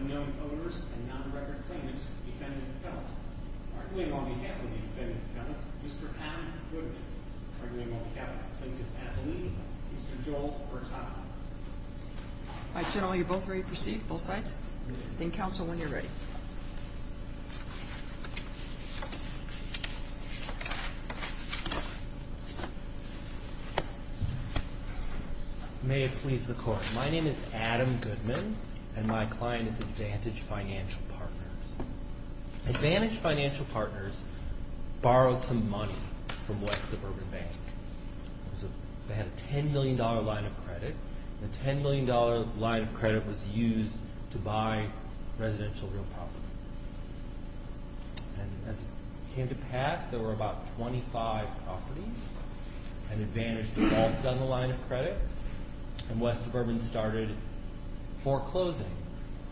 Unknown Owners and Non-Record Claimants Defendant and Penalty. Arguing on behalf of the defendent and penalty, Mr. Adam Goodman. Arguing on behalf of the plaintiff and the plaintiff's family, Mr. Joel Hurtado. All right, General, you're both ready to proceed, both sides? Think counsel when you're ready. May it please the Court. My name is Adam Goodman, and my client is Advantage Financial Partners. Advantage Financial Partners borrowed some money from West Suburban Bank. They had a $10 million line of credit, and the $10 million line of credit was used to buy residential real property. And as it came to pass, there were about 25 properties, and Advantage defaulted on the line of credit, and West Suburban started foreclosing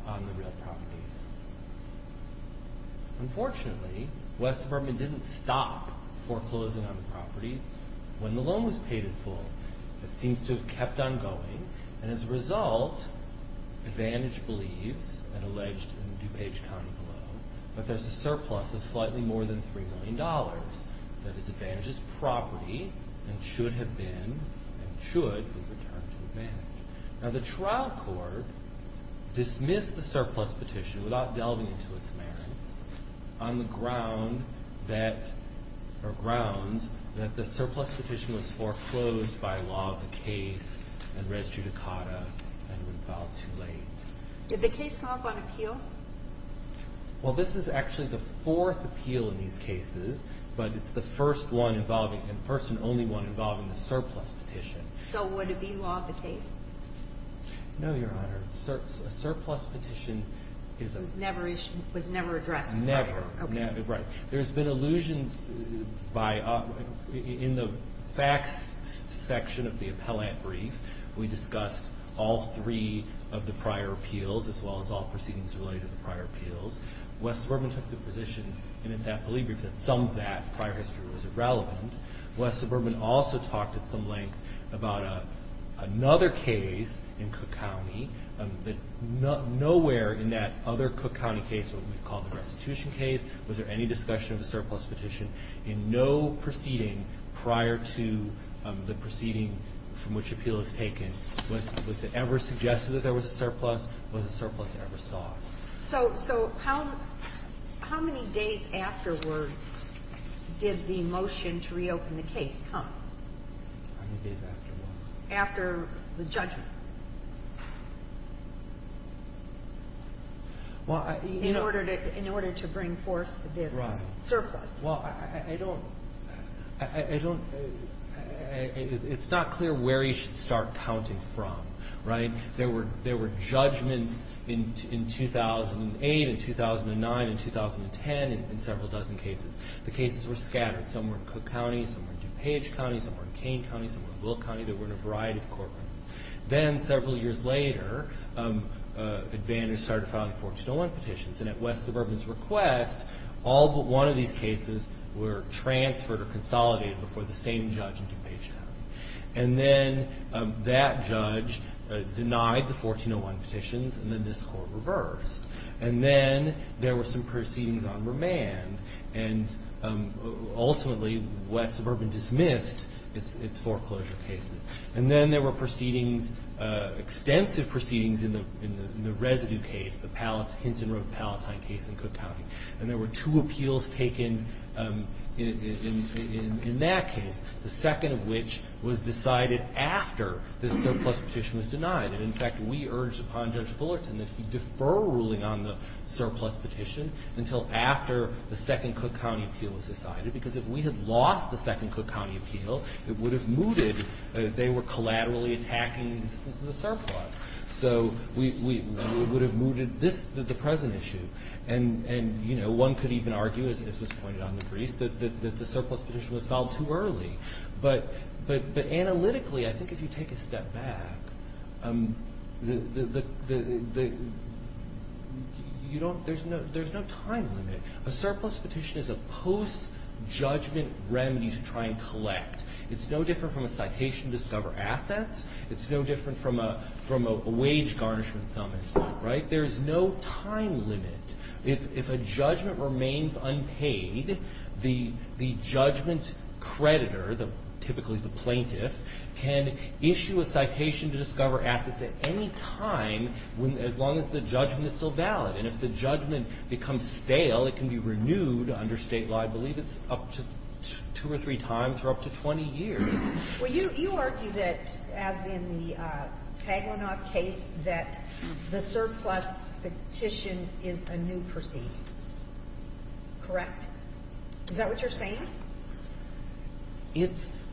on the real properties. Unfortunately, West Suburban didn't stop foreclosing on the properties when the loan was paid in full. It seems to have kept on going, and as a result, Advantage believes, and alleged in DuPage County below, that there's a surplus of slightly more than $3 million. That is, Advantage's property should have been and should be returned to Advantage. Now, the trial court dismissed the surplus petition, without delving into its merits, on the grounds that the surplus petition was foreclosed by law of the case and res judicata and was filed too late. Did the case come up on appeal? Well, this is actually the fourth appeal in these cases, but it's the first and only one involving the surplus petition. So would it be law of the case? No, Your Honor. A surplus petition is a- Was never addressed before. Never. Okay. Right. There's been allusions in the facts section of the appellate brief. We discussed all three of the prior appeals, as well as all proceedings related to the prior appeals. West Suburban took the position in its appellee brief that some of that prior history was irrelevant. West Suburban also talked at some length about another case in Cook County, but nowhere in that other Cook County case, what we call the restitution case, was there any discussion of a surplus petition in no proceeding prior to the proceeding from which appeal is taken. Was it ever suggested that there was a surplus? Was a surplus ever sought? So how many days afterwards did the motion to reopen the case come? How many days afterwards? After the judgment. Well, I- In order to bring forth this surplus. Well, I don't- It's not clear where you should start counting from, right? There were judgments in 2008 and 2009 and 2010 in several dozen cases. The cases were scattered. Some were in Cook County. Some were in DuPage County. Some were in Kane County. Some were in Will County. They were in a variety of courtrooms. Then several years later, Advantage started filing 1401 petitions, and at West Suburban's request, all but one of these cases were transferred or consolidated before the same judge in DuPage happened. And then that judge denied the 1401 petitions, and then this court reversed. And then there were some proceedings on remand, and ultimately West Suburban dismissed its foreclosure cases. And then there were proceedings, extensive proceedings in the residue case, the Hinton Road Palatine case in Cook County. And there were two appeals taken in that case, the second of which was decided after the surplus petition was denied. And, in fact, we urged upon Judge Fullerton that he defer ruling on the surplus petition until after the second Cook County appeal was decided, because if we had lost the second Cook County appeal, it would have mooted that they were collaterally attacking the existence of the surplus. So we would have mooted this, the present issue. And, you know, one could even argue, as was pointed out in the briefs, that the surplus petition was filed too early. But analytically, I think if you take a step back, there's no time limit. A surplus petition is a post-judgment remedy to try and collect. It's no different from a citation to discover assets. It's no different from a wage garnishment summons, right? There's no time limit. If a judgment remains unpaid, the judgment creditor, typically the plaintiff, can issue a citation to discover assets at any time as long as the judgment is still valid. And if the judgment becomes stale, it can be renewed under state law. I believe it's up to two or three times for up to 20 years. Well, you argue that, as in the Taglinoff case, that the surplus petition is a new proceeding. Correct? Is that what you're saying? It's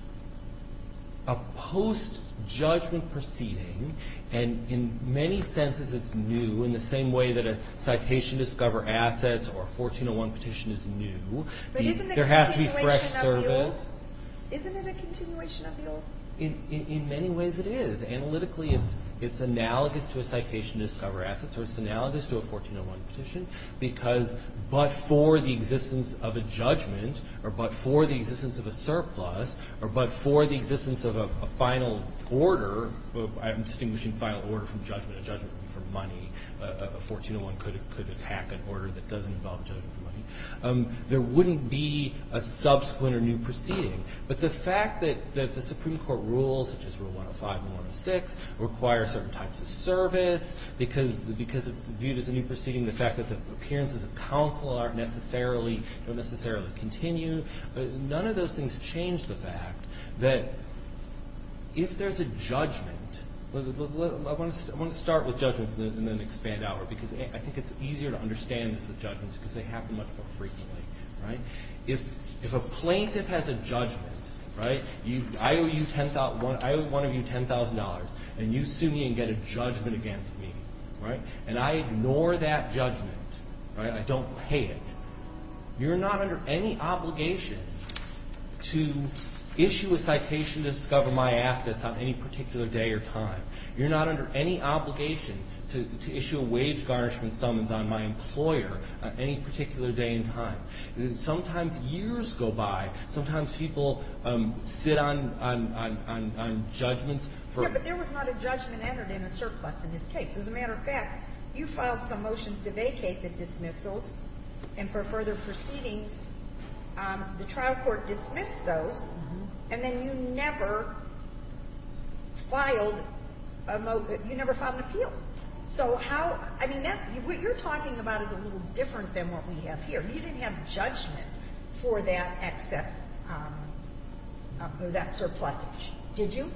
a post-judgment proceeding, and in many senses it's new, in the same way that a citation to discover assets or a 1401 petition is new. But isn't it a continuation of the appeal? Isn't it a continuation of the appeal? In many ways it is. Analytically, it's analogous to a citation to discover assets, or it's analogous to a 1401 petition, because but for the existence of a judgment or but for the existence of a surplus or but for the existence of a final order, I'm distinguishing final order from judgment. A judgment would be for money. A 1401 could attack an order that doesn't involve a judgment for money. There wouldn't be a subsequent or new proceeding. But the fact that the Supreme Court rules, such as Rule 105 and 106, require certain types of service, because it's viewed as a new proceeding, the fact that the appearances of counsel aren't necessarily, don't necessarily continue, but none of those things change the fact that if there's a judgment, I want to start with judgments and then expand outward, because I think it's easier to understand this with judgments because they happen much more frequently. If a plaintiff has a judgment, I owe one of you $10,000, and you sue me and get a judgment against me, and I ignore that judgment, I don't pay it, you're not under any obligation to issue a citation to discover my assets on any particular day or time. You're not under any obligation to issue a wage garnishment summons on my employer on any particular day and time. Sometimes years go by. Sometimes people sit on judgments. Yeah, but there was not a judgment entered in a surplus in this case. As a matter of fact, you filed some motions to vacate the dismissals and for further proceedings. The trial court dismissed those, and then you never filed a, you never filed an appeal. So how, I mean, that's, what you're talking about is a little different than what we have here. You didn't have judgment for that excess, for that surplusage, did you?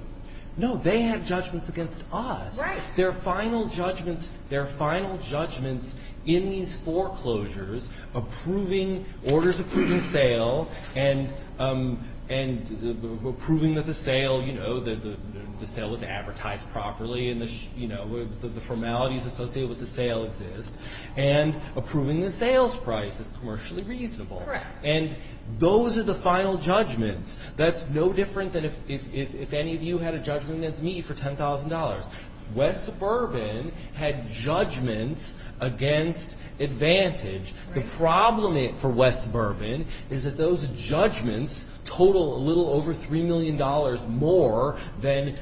No. They had judgments against us. Right. There are final judgments, there are final judgments in these foreclosures approving, orders approving sale and approving that the sale, you know, the sale was advertised properly and the, you know, the formalities associated with the sale exist, and approving the sales price is commercially reasonable. Correct. And those are the final judgments. That's no different than if any of you had a judgment against me for $10,000. West Suburban had judgments against Advantage. The problem for West Suburban is that those judgments total a little over $3 million more than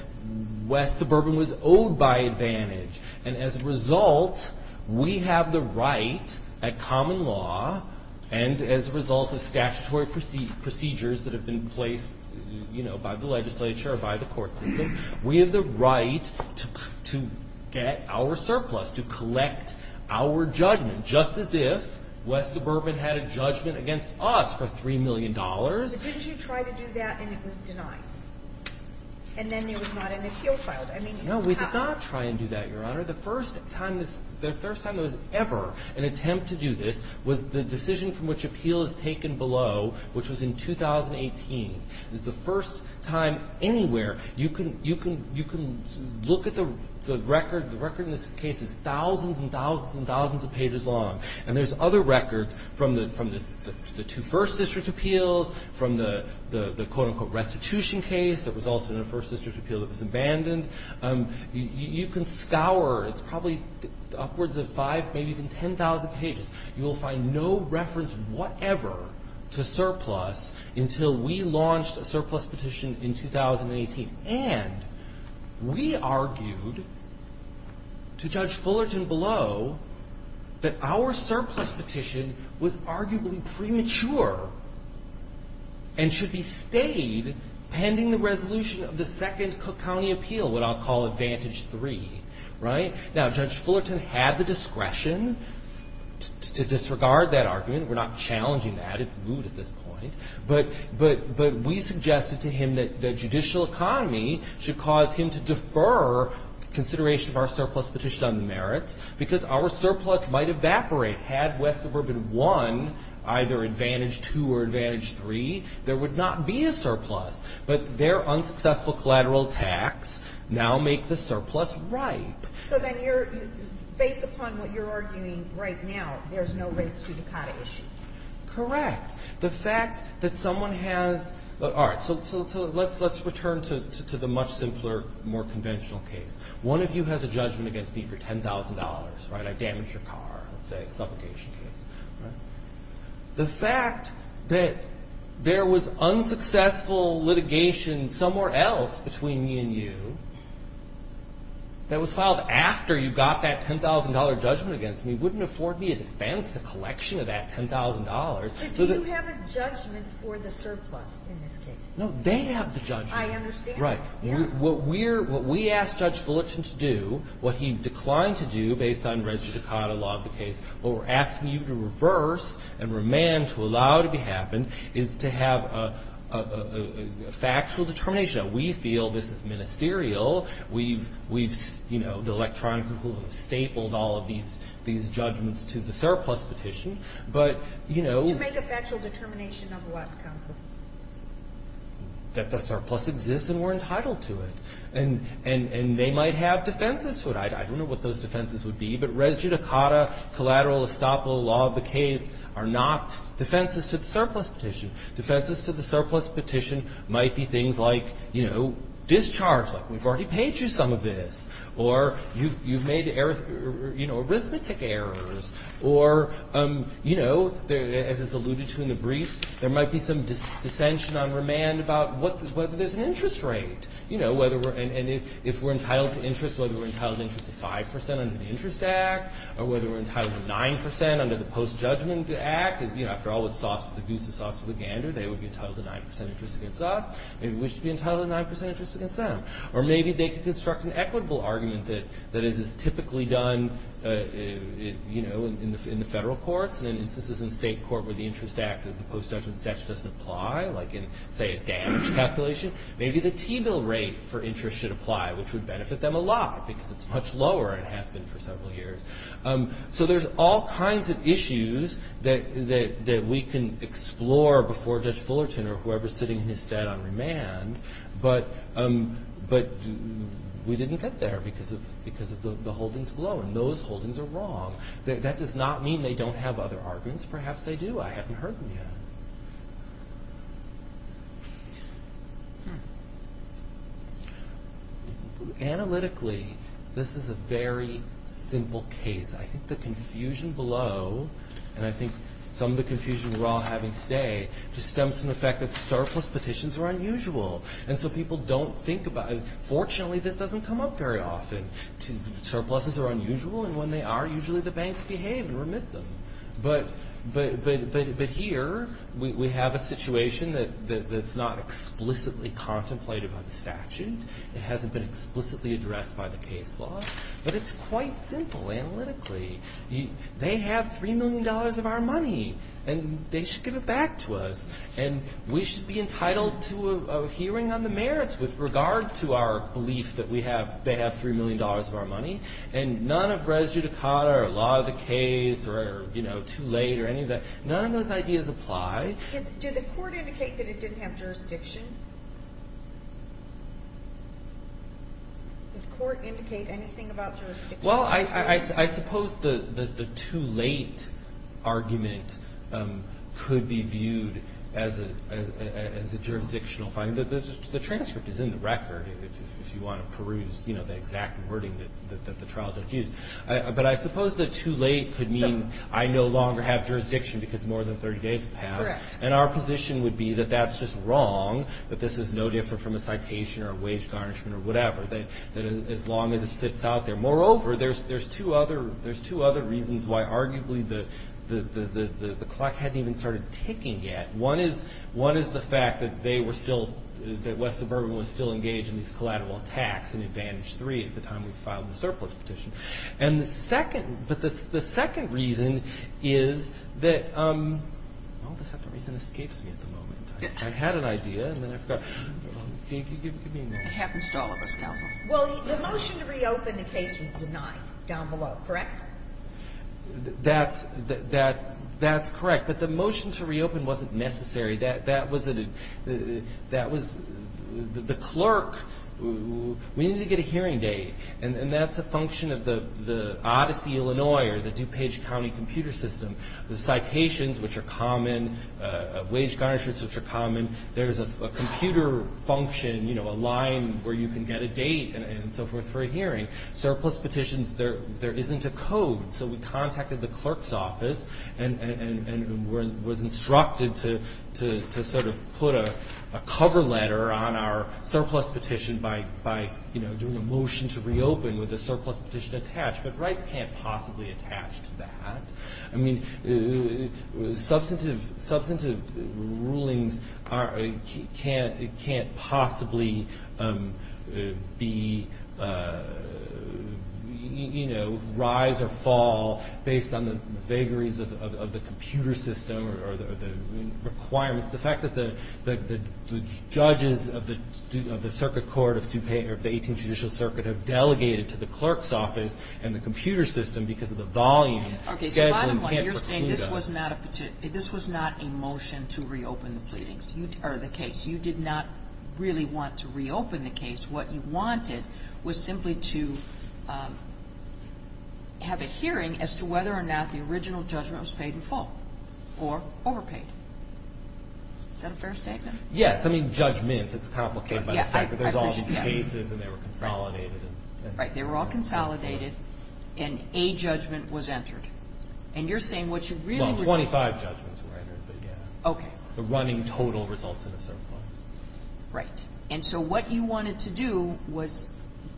West Suburban was owed by Advantage. And as a result, we have the right at common law, and as a result of statutory procedures that have been placed, you know, by the legislature or by the court system, we have the right to get our surplus, to collect our judgment, just as if West Suburban had a judgment against us for $3 million. But didn't you try to do that and it was denied? And then there was not an appeal filed. I mean, it didn't happen. No, we did not try and do that, Your Honor. The first time there was ever an attempt to do this was the decision from which appeal is taken below, which was in 2018. It's the first time anywhere you can look at the record. The record in this case is thousands and thousands and thousands of pages long. And there's other records from the two first district appeals, from the, quote, unquote, restitution case that resulted in a first district appeal that was abandoned. You can scour. It's probably upwards of 5, maybe even 10,000 pages. You will find no reference whatever to surplus until we launched a surplus petition in 2018. And we argued to Judge Fullerton below that our surplus petition was arguably premature and should be stayed pending the resolution of the second Cook County appeal, what I'll call Advantage 3, right? Now, Judge Fullerton had the discretion to disregard that argument. We're not challenging that. It's moot at this point. But we suggested to him that the judicial economy should cause him to defer consideration of our surplus petition on the merits because our surplus might evaporate. Had West Suburban won either Advantage 2 or Advantage 3, there would not be a surplus. But their unsuccessful collateral tax now makes the surplus ripe. So then you're, based upon what you're arguing right now, there's no race judicata issue. Correct. The fact that someone has, all right, so let's return to the much simpler, more conventional case. One of you has a judgment against me for $10,000, right? I damaged your car, let's say, supplication case. The fact that there was unsuccessful litigation somewhere else between me and you that was filed after you got that $10,000 judgment against me wouldn't afford me a defense to collection of that $10,000. But do you have a judgment for the surplus in this case? No, they have the judgment. I understand. Right. What we asked Judge Fullerton to do, what he declined to do based on race judicata law of the case, what we're asking you to reverse and remand to allow it to happen is to have a factual determination. Now, we feel this is ministerial. We've, you know, the electronic rule has stapled all of these judgments to the surplus petition. But, you know. To make a factual determination of what, counsel? That the surplus exists and we're entitled to it. And they might have defenses to it. I don't know what those defenses would be. But res judicata, collateral estoppel, law of the case are not defenses to the surplus petition. Defenses to the surplus petition might be things like, you know, discharge. Like, we've already paid you some of this. Or you've made arithmetic errors. Or, you know, as is alluded to in the briefs, there might be some dissension on remand about whether there's an interest rate. And if we're entitled to interest, whether we're entitled to interest of 5% under the Interest Act, or whether we're entitled to 9% under the Post-Judgment Act. You know, after all, the goose is sauce with the gander. They would be entitled to 9% interest against us. Maybe we should be entitled to 9% interest against them. Or maybe they could construct an equitable argument that is typically done, you know, in the federal courts. And in instances in state court where the Interest Act of the Post-Judgment Statute doesn't apply, like in, say, a damage calculation, maybe the T-bill rate for interest should apply, which would benefit them a lot because it's much lower than it has been for several years. So there's all kinds of issues that we can explore before Judge Fullerton or whoever is sitting in his stead on remand. But we didn't get there because of the holdings below. And those holdings are wrong. That does not mean they don't have other arguments. Perhaps they do. I haven't heard them yet. Analytically, this is a very simple case. I think the confusion below, and I think some of the confusion we're all having today, just stems from the fact that surplus petitions are unusual. And so people don't think about it. Fortunately, this doesn't come up very often. Surpluses are unusual, and when they are, usually the banks behave and remit them. But here we have a situation that's not explicitly contemplated by the statute. It hasn't been explicitly addressed by the case law. But it's quite simple analytically. They have $3 million of our money, and they should give it back to us. And we should be entitled to a hearing on the merits with regard to our belief that they have $3 million of our money. And none of res judicata or law of the case or too late or any of that, none of those ideas apply. Did the court indicate that it didn't have jurisdiction? Did the court indicate anything about jurisdiction? Well, I suppose the too late argument could be viewed as a jurisdictional finding. The transcript is in the record if you want to peruse the exact wording that the trial judge used. But I suppose the too late could mean I no longer have jurisdiction because more than 30 days have passed. And our position would be that that's just wrong, that this is no different from a citation or a wage garnishment or whatever, that as long as it sits out there. Moreover, there's two other reasons why arguably the clock hadn't even started ticking yet. One is the fact that West Suburban was still engaged in these collateral attacks in Advantage 3 at the time we filed the surplus petition. But the second reason is that the second reason escapes me at the moment. I had an idea, and then I forgot. It happens to all of us, counsel. Well, the motion to reopen the case was denied down below, correct? That's correct. But the motion to reopen wasn't necessary. That was the clerk. We need to get a hearing date. And that's a function of the Odyssey, Illinois, or the DuPage County computer system. The citations, which are common, wage garnishments, which are common. There's a computer function, you know, a line where you can get a date and so forth for a hearing. Surplus petitions, there isn't a code. So we contacted the clerk's office and was instructed to sort of put a cover letter on our surplus petition by, you know, doing a motion to reopen with a surplus petition attached. But rights can't possibly attach to that. I mean, substantive rulings can't possibly be, you know, rise or fall based on the vagaries of the computer system or the requirements. The fact that the judges of the Circuit Court of DuPage or the 18th Judicial Circuit have delegated to the clerk's office and the computer system because of the volume. Okay, so a lot of what you're saying, this was not a motion to reopen the case. You did not really want to reopen the case. What you wanted was simply to have a hearing as to whether or not the original judgment was paid in full or overpaid. Is that a fair statement? Yes, I mean judgments. It's complicated by the fact that there's all these cases and they were consolidated. Right. They were all consolidated and a judgment was entered. And you're saying what you really were. Well, 25 judgments were entered, but yeah. Okay. The running total results in a surplus. Right. And so what you wanted to do was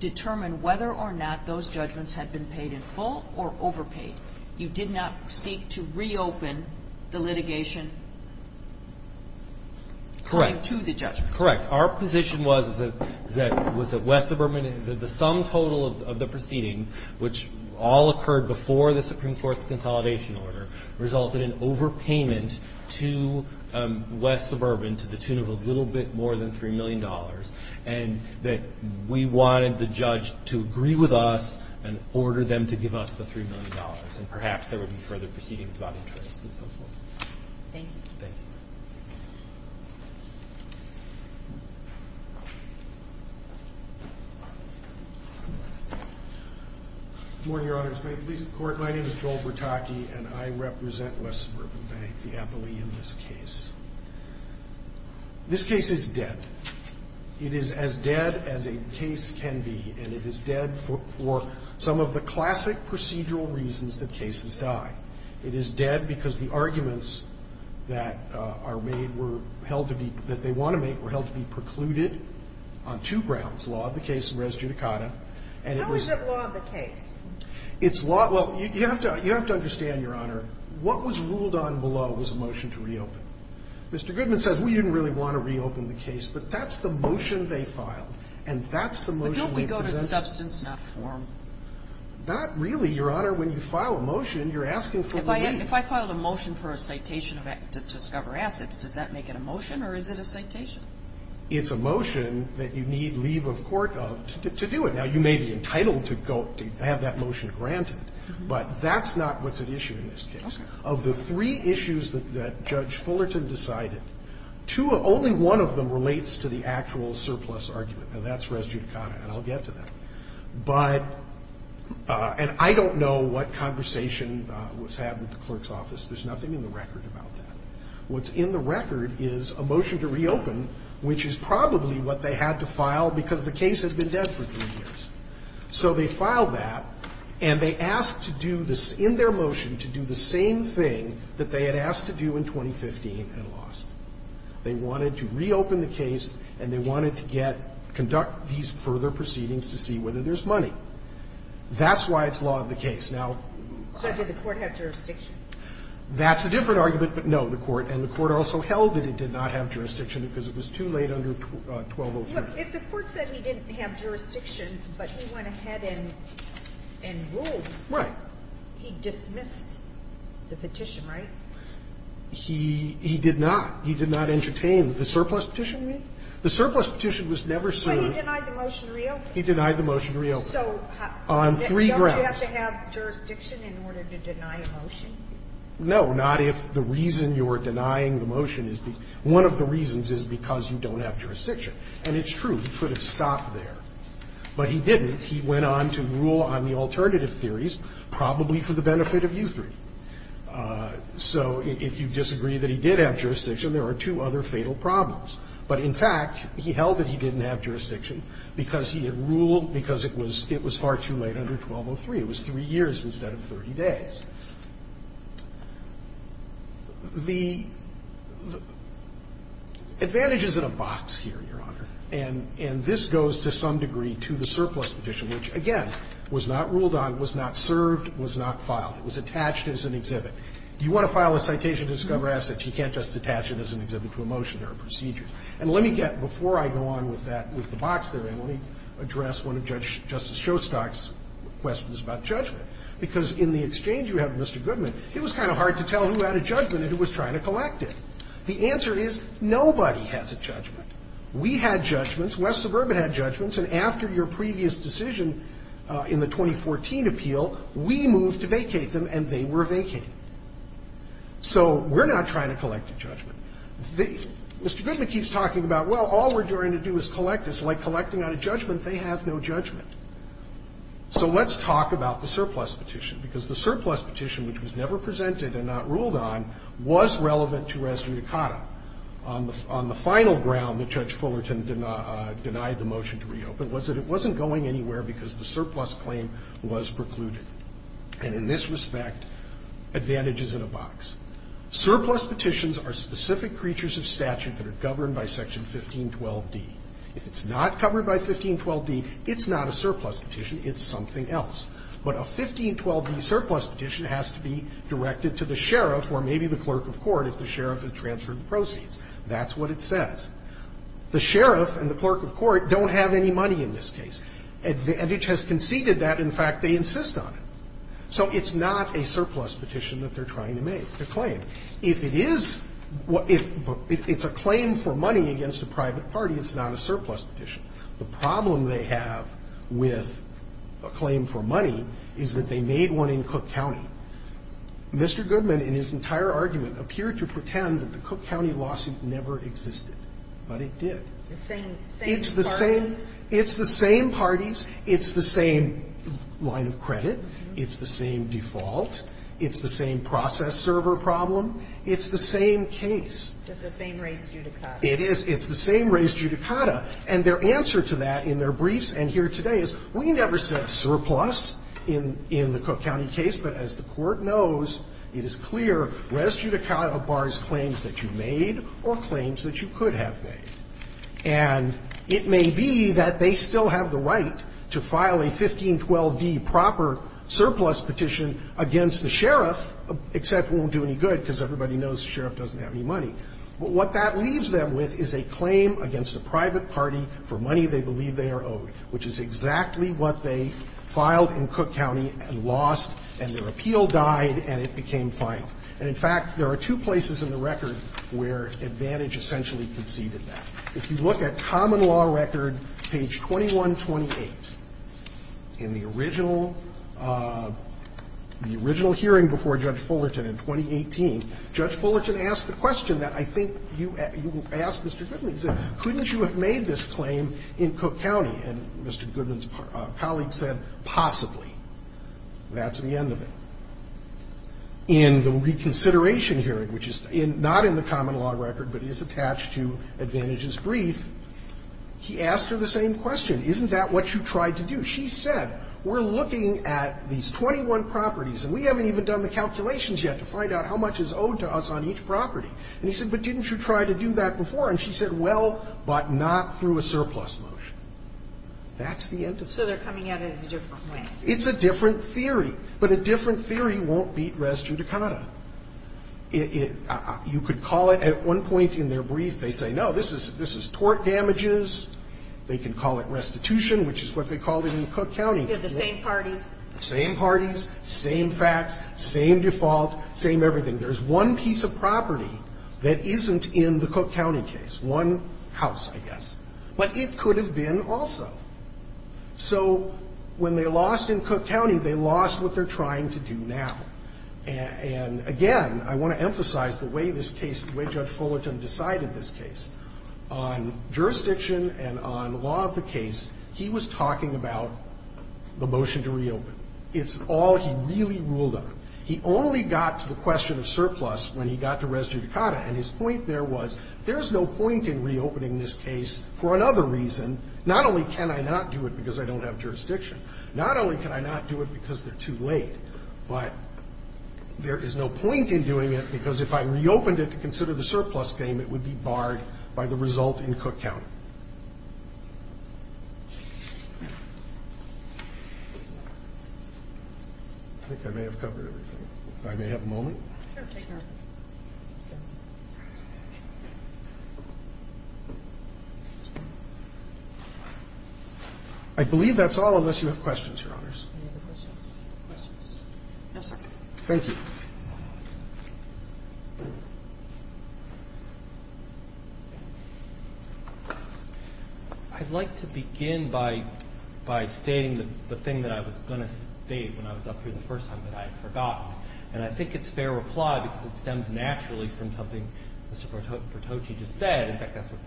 determine whether or not those judgments had been paid in full or overpaid. You did not seek to reopen the litigation. Correct. Coming to the judgment. Correct. Our position was that West Suburban, the sum total of the proceedings, which all occurred before the Supreme Court's consolidation order, resulted in overpayment to West Suburban to the tune of a little bit more than $3 million, and that we wanted the judge to agree with us and order them to give us the $3 million, and perhaps there would be further proceedings about interest and so forth. Thank you. Good morning, Your Honors. May it please the Court, my name is Joel Bertocchi, and I represent West Suburban Bank, the appellee in this case. This case is dead. It is as dead as a case can be, and it is dead for some of the classic procedural reasons that cases die. It is dead because the arguments that the case is dead, the arguments that are made were held to be, that they want to make were held to be precluded on two grounds, law of the case and res judicata. How is it law of the case? It's law, well, you have to understand, Your Honor, what was ruled on below was a motion to reopen. Mr. Goodman says we didn't really want to reopen the case, but that's the motion they filed, and that's the motion we present. But don't we go to substance, not form? Not really, Your Honor. When you file a motion, you're asking for relief. If I filed a motion for a citation to discover assets, does that make it a motion or is it a citation? It's a motion that you need leave of court of to do it. Now, you may be entitled to have that motion granted, but that's not what's at issue in this case. Of the three issues that Judge Fullerton decided, only one of them relates to the actual surplus argument, and that's res judicata, and I'll get to that. But, and I don't know what conversation was had with the clerk's office. There's nothing in the record about that. What's in the record is a motion to reopen, which is probably what they had to file because the case had been dead for three years. So they filed that, and they asked to do this in their motion to do the same thing that they had asked to do in 2015 and lost. They wanted to reopen the case, and they wanted to get, conduct these further proceedings to see whether there's money. That's why it's law of the case. Now. So did the Court have jurisdiction? That's a different argument, but no, the Court. And the Court also held that it did not have jurisdiction because it was too late under 1203. If the Court said he didn't have jurisdiction, but he went ahead and ruled. Right. He dismissed the petition, right? He did not. He did not entertain the surplus petition. The surplus petition was never sued. But he denied the motion to reopen. He denied the motion to reopen on three grounds. So don't you have to have jurisdiction in order to deny a motion? No, not if the reason you're denying the motion is the one of the reasons is because you don't have jurisdiction. And it's true. He could have stopped there. But he didn't. He went on to rule on the alternative theories, probably for the benefit of you three. So if you disagree that he did have jurisdiction, there are two other fatal problems. But in fact, he held that he didn't have jurisdiction because he had ruled because it was far too late under 1203. It was three years instead of 30 days. The advantages in a box here, Your Honor, and this goes to some degree to the surplus petition, which, again, was not ruled on, was not served, was not filed. It was attached as an exhibit. You want to file a citation to discover assets, you can't just attach it as an exhibit to a motion or a procedure. And let me get, before I go on with that, with the box there, let me address one of Judge Justice Showstock's questions about judgment. Because in the exchange you have with Mr. Goodman, it was kind of hard to tell who had a judgment and who was trying to collect it. The answer is nobody has a judgment. We had judgments. West Suburban had judgments. And after your previous decision in the 2014 appeal, we moved to vacate them and they were vacated. So we're not trying to collect a judgment. Mr. Goodman keeps talking about, well, all we're trying to do is collect. It's like collecting on a judgment. They have no judgment. So let's talk about the surplus petition, because the surplus petition, which was never presented and not ruled on, was relevant to res judicata. On the final ground that Judge Fullerton denied the motion to reopen was that it wasn't going anywhere because the surplus claim was precluded. And in this respect, advantages in a box. Surplus petitions are specific creatures of statute that are governed by Section 1512d. If it's not covered by 1512d, it's not a surplus petition. It's something else. But a 1512d surplus petition has to be directed to the sheriff or maybe the clerk of court if the sheriff had transferred the proceeds. That's what it says. The sheriff and the clerk of court don't have any money in this case. Advantage has conceded that. In fact, they insist on it. So it's not a surplus petition that they're trying to make. It's a claim. If it is, it's a claim for money against a private party. It's not a surplus petition. The problem they have with a claim for money is that they made one in Cook County. Mr. Goodman, in his entire argument, appeared to pretend that the Cook County lawsuit never existed, but it did. It's the same parties. It's the same parties. It's the same line of credit. It's the same default. It's the same process server problem. It's the same case. It's the same res judicata. It is. It's the same res judicata. And their answer to that in their briefs and here today is we never said surplus in the Cook County case, but as the Court knows, it is clear res judicata bars claims that you made or claims that you could have made. And it may be that they still have the right to file a 1512d proper surplus petition against the sheriff, except it won't do any good because everybody knows the sheriff doesn't have any money. But what that leaves them with is a claim against a private party for money they believe they are owed, which is exactly what they filed in Cook County and lost, and their appeal died, and it became final. And, in fact, there are two places in the record where Advantage essentially conceded that. If you look at Common Law Record, page 2128, in the original, the original hearing before Judge Fullerton in 2018, Judge Fullerton asked the question that I think you asked Mr. Goodman. He said, couldn't you have made this claim in Cook County? And Mr. Goodman's colleague said, possibly. That's the end of it. In the reconsideration hearing, which is not in the Common Law Record, but is attached to Advantage's brief, he asked her the same question. Isn't that what you tried to do? She said, we're looking at these 21 properties, and we haven't even done the calculations yet to find out how much is owed to us on each property. And he said, but didn't you try to do that before? And she said, well, but not through a surplus motion. That's the end of it. So they're coming at it in a different way. It's a different theory. But a different theory won't beat res judicata. You could call it at one point in their brief, they say, no, this is tort damages. They can call it restitution, which is what they called it in Cook County. They're the same parties. Same parties, same facts, same default, same everything. There's one piece of property that isn't in the Cook County case, one house, I guess. But it could have been also. So when they lost in Cook County, they lost what they're trying to do now. And, again, I want to emphasize the way this case, the way Judge Fullerton decided this case. On jurisdiction and on law of the case, he was talking about the motion to reopen. It's all he really ruled on. He only got to the question of surplus when he got to res judicata. And his point there was, there's no point in reopening this case for another reason. Not only can I not do it because I don't have jurisdiction, not only can I not do it because they're too late, but there is no point in doing it because if I reopened it to consider the surplus game, it would be barred by the result in Cook County. I think I may have covered everything. If I may have a moment. I believe that's all, unless you have questions, Your Honors. Any other questions? Questions? No, sir. Thank you. I'd like to begin by stating the thing that I was going to state when I was up here the first time that I had forgotten. And I think it's fair reply because it stems naturally from something Mr. Pertocci just said. In fact, that's what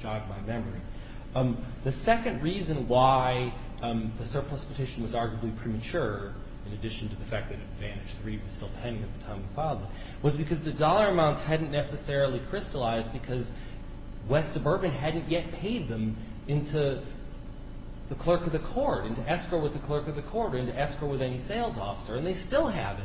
jogged my memory. The second reason why the surplus petition was arguably premature, in addition to the fact that advantage three was still pending at the time we filed it, was because the dollar amounts hadn't necessarily crystallized because West Suburban hadn't yet paid them into the clerk of the court, into escrow with the clerk of the court, or into escrow with any sales officer. And they still haven't.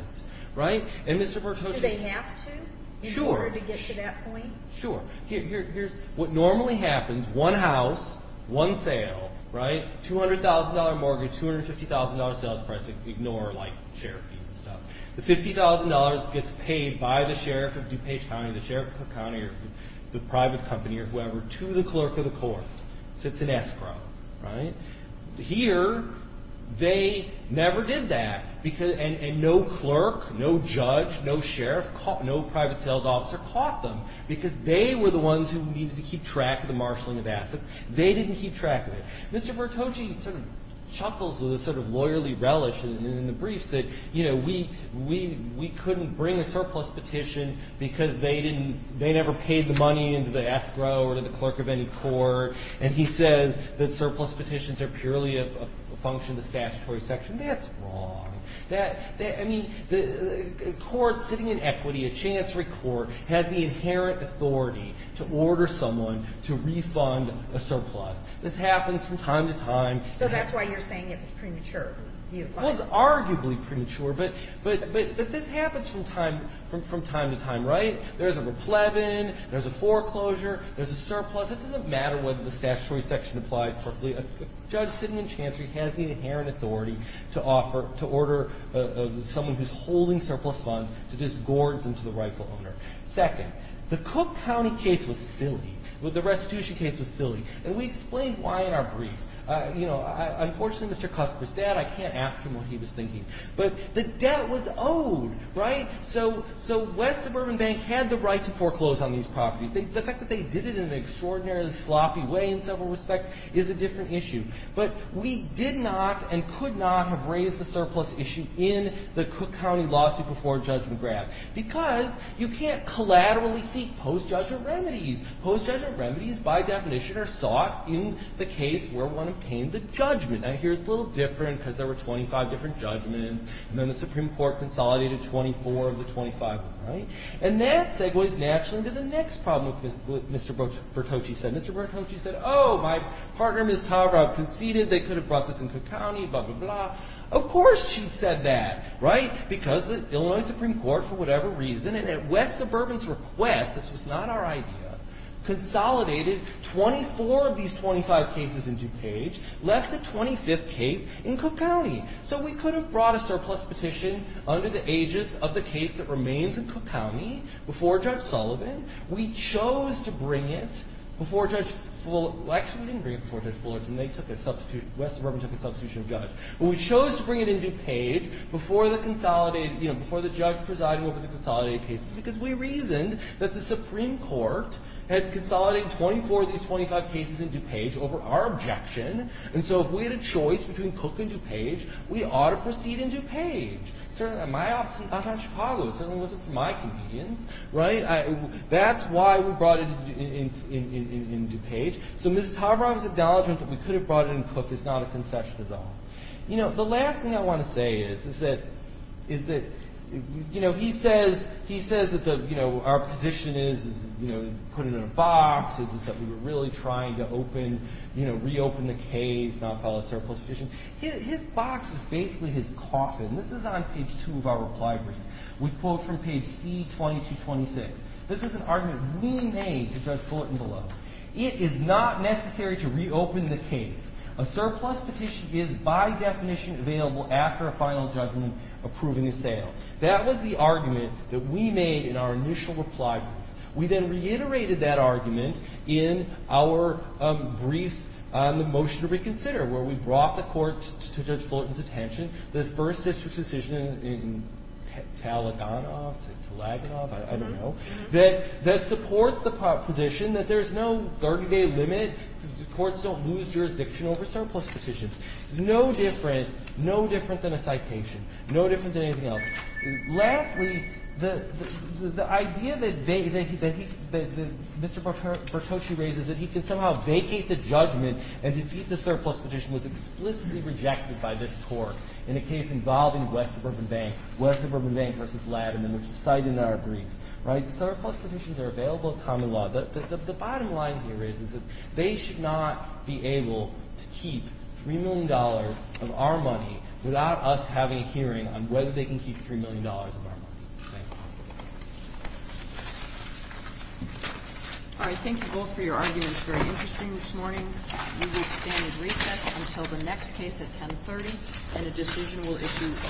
Right? And Mr. Pertocci... Do they have to? Sure. In order to get to that point? Sure. Here's what normally happens. One house. One sale. Right? $200,000 mortgage. $250,000 sales price. Ignore, like, sheriff fees and stuff. The $50,000 gets paid by the sheriff of DuPage County, the sheriff of the county, or the private company, or whoever, to the clerk of the court. So it's an escrow. Right? Here, they never did that. And no clerk, no judge, no sheriff, no private sales officer caught them because they were the ones who needed to keep track of the marshaling of assets. They didn't keep track of it. Mr. Pertocci sort of chuckles with a sort of lawyerly relish in the briefs that, you know, we couldn't bring a surplus petition because they didn't they never paid the money into the escrow or to the clerk of any court. And he says that surplus petitions are purely a function of the statutory section. That's wrong. I mean, the court sitting in equity, a chancery court, has the inherent authority to order someone to refund a surplus. This happens from time to time. So that's why you're saying it's premature. Well, it's arguably premature. But this happens from time to time, right? There's a replevin. There's a foreclosure. There's a surplus. It doesn't matter whether the statutory section applies perfectly. A judge sitting in chancery has the inherent authority to order someone who's holding surplus funds to disgorge them to the rightful owner. Second, the Cook County case was silly. The restitution case was silly. And we explained why in our briefs. You know, unfortunately, Mr. Cusper's dad, I can't ask him what he was thinking. But the debt was owed, right? So West Suburban Bank had the right to foreclose on these properties. The fact that they did it in an extraordinarily sloppy way in several respects is a different issue. But we did not and could not have raised the surplus issue in the Cook County lawsuit before judgment grabbed because you can't collaterally seek post-judgment remedies. Post-judgment remedies, by definition, are sought in the case where one obtained the judgment. Now, here it's a little different because there were 25 different judgments. And then the Supreme Court consolidated 24 of the 25, right? And that segues naturally to the next problem with what Mr. Bertocci said. Mr. Bertocci said, oh, my partner, Ms. Tavra, conceded they could have brought this in Cook County, blah, blah, blah. Of course she said that, right? Because the Illinois Supreme Court, for whatever reason, and at West Suburban's request, this was not our idea, consolidated 24 of these 25 cases in DuPage, left the 25th case in Cook County. So we could have brought a surplus petition under the aegis of the case that remains in Cook County before Judge Sullivan. We chose to bring it before Judge Fuller – well, actually, we didn't bring it before Judge Fuller. They took a substitution – West Suburban took a substitution of Judge. But we chose to bring it in DuPage before the consolidated – you know, before the judge presiding over the consolidated cases because we reasoned that the Supreme Court had consolidated 24 of these 25 cases in DuPage over our objection. And so if we had a choice between Cook and DuPage, we ought to proceed in DuPage. My office in Chicago certainly wasn't for my convenience, right? That's why we brought it in DuPage. So Ms. Tavra's acknowledgment that we could have brought it in Cook is not a concession at all. You know, the last thing I want to say is that – is that, you know, he says that the – you know, our position is, you know, put it in a box, is that we were really trying to open – you know, reopen the case, not file a surplus petition. His box is basically his coffin. This is on page 2 of our reply brief. We quote from page C-2226. This is an argument we made to Judge Sullivan below. It is not necessary to reopen the case. A surplus petition is by definition available after a final judgment approving a sale. That was the argument that we made in our initial reply brief. We then reiterated that argument in our briefs on the motion to reconsider, where we brought the court to Judge Fullerton's attention, this first district's decision in Talaganov – Talaganov, I don't know – that supports the proposition that there's no 30-day limit. Courts don't lose jurisdiction over surplus petitions. No different – no different than a citation. No different than anything else. Lastly, the idea that they – that he – that Mr. Bertocci raises, that he can somehow vacate the judgment and defeat the surplus petition, was explicitly rejected by this court in a case involving West Suburban Bank, West Suburban Bank v. Laderman, which is cited in our briefs. Right? Surplus petitions are available in common law. The bottom line here is that they should not be able to keep $3 million of our money without us having a hearing on whether they can keep $3 million of our money. Thank you. All right. Thank you both for your arguments. Very interesting this morning. We will stand at recess until the next case at 10.30, and a decision will issue in due course.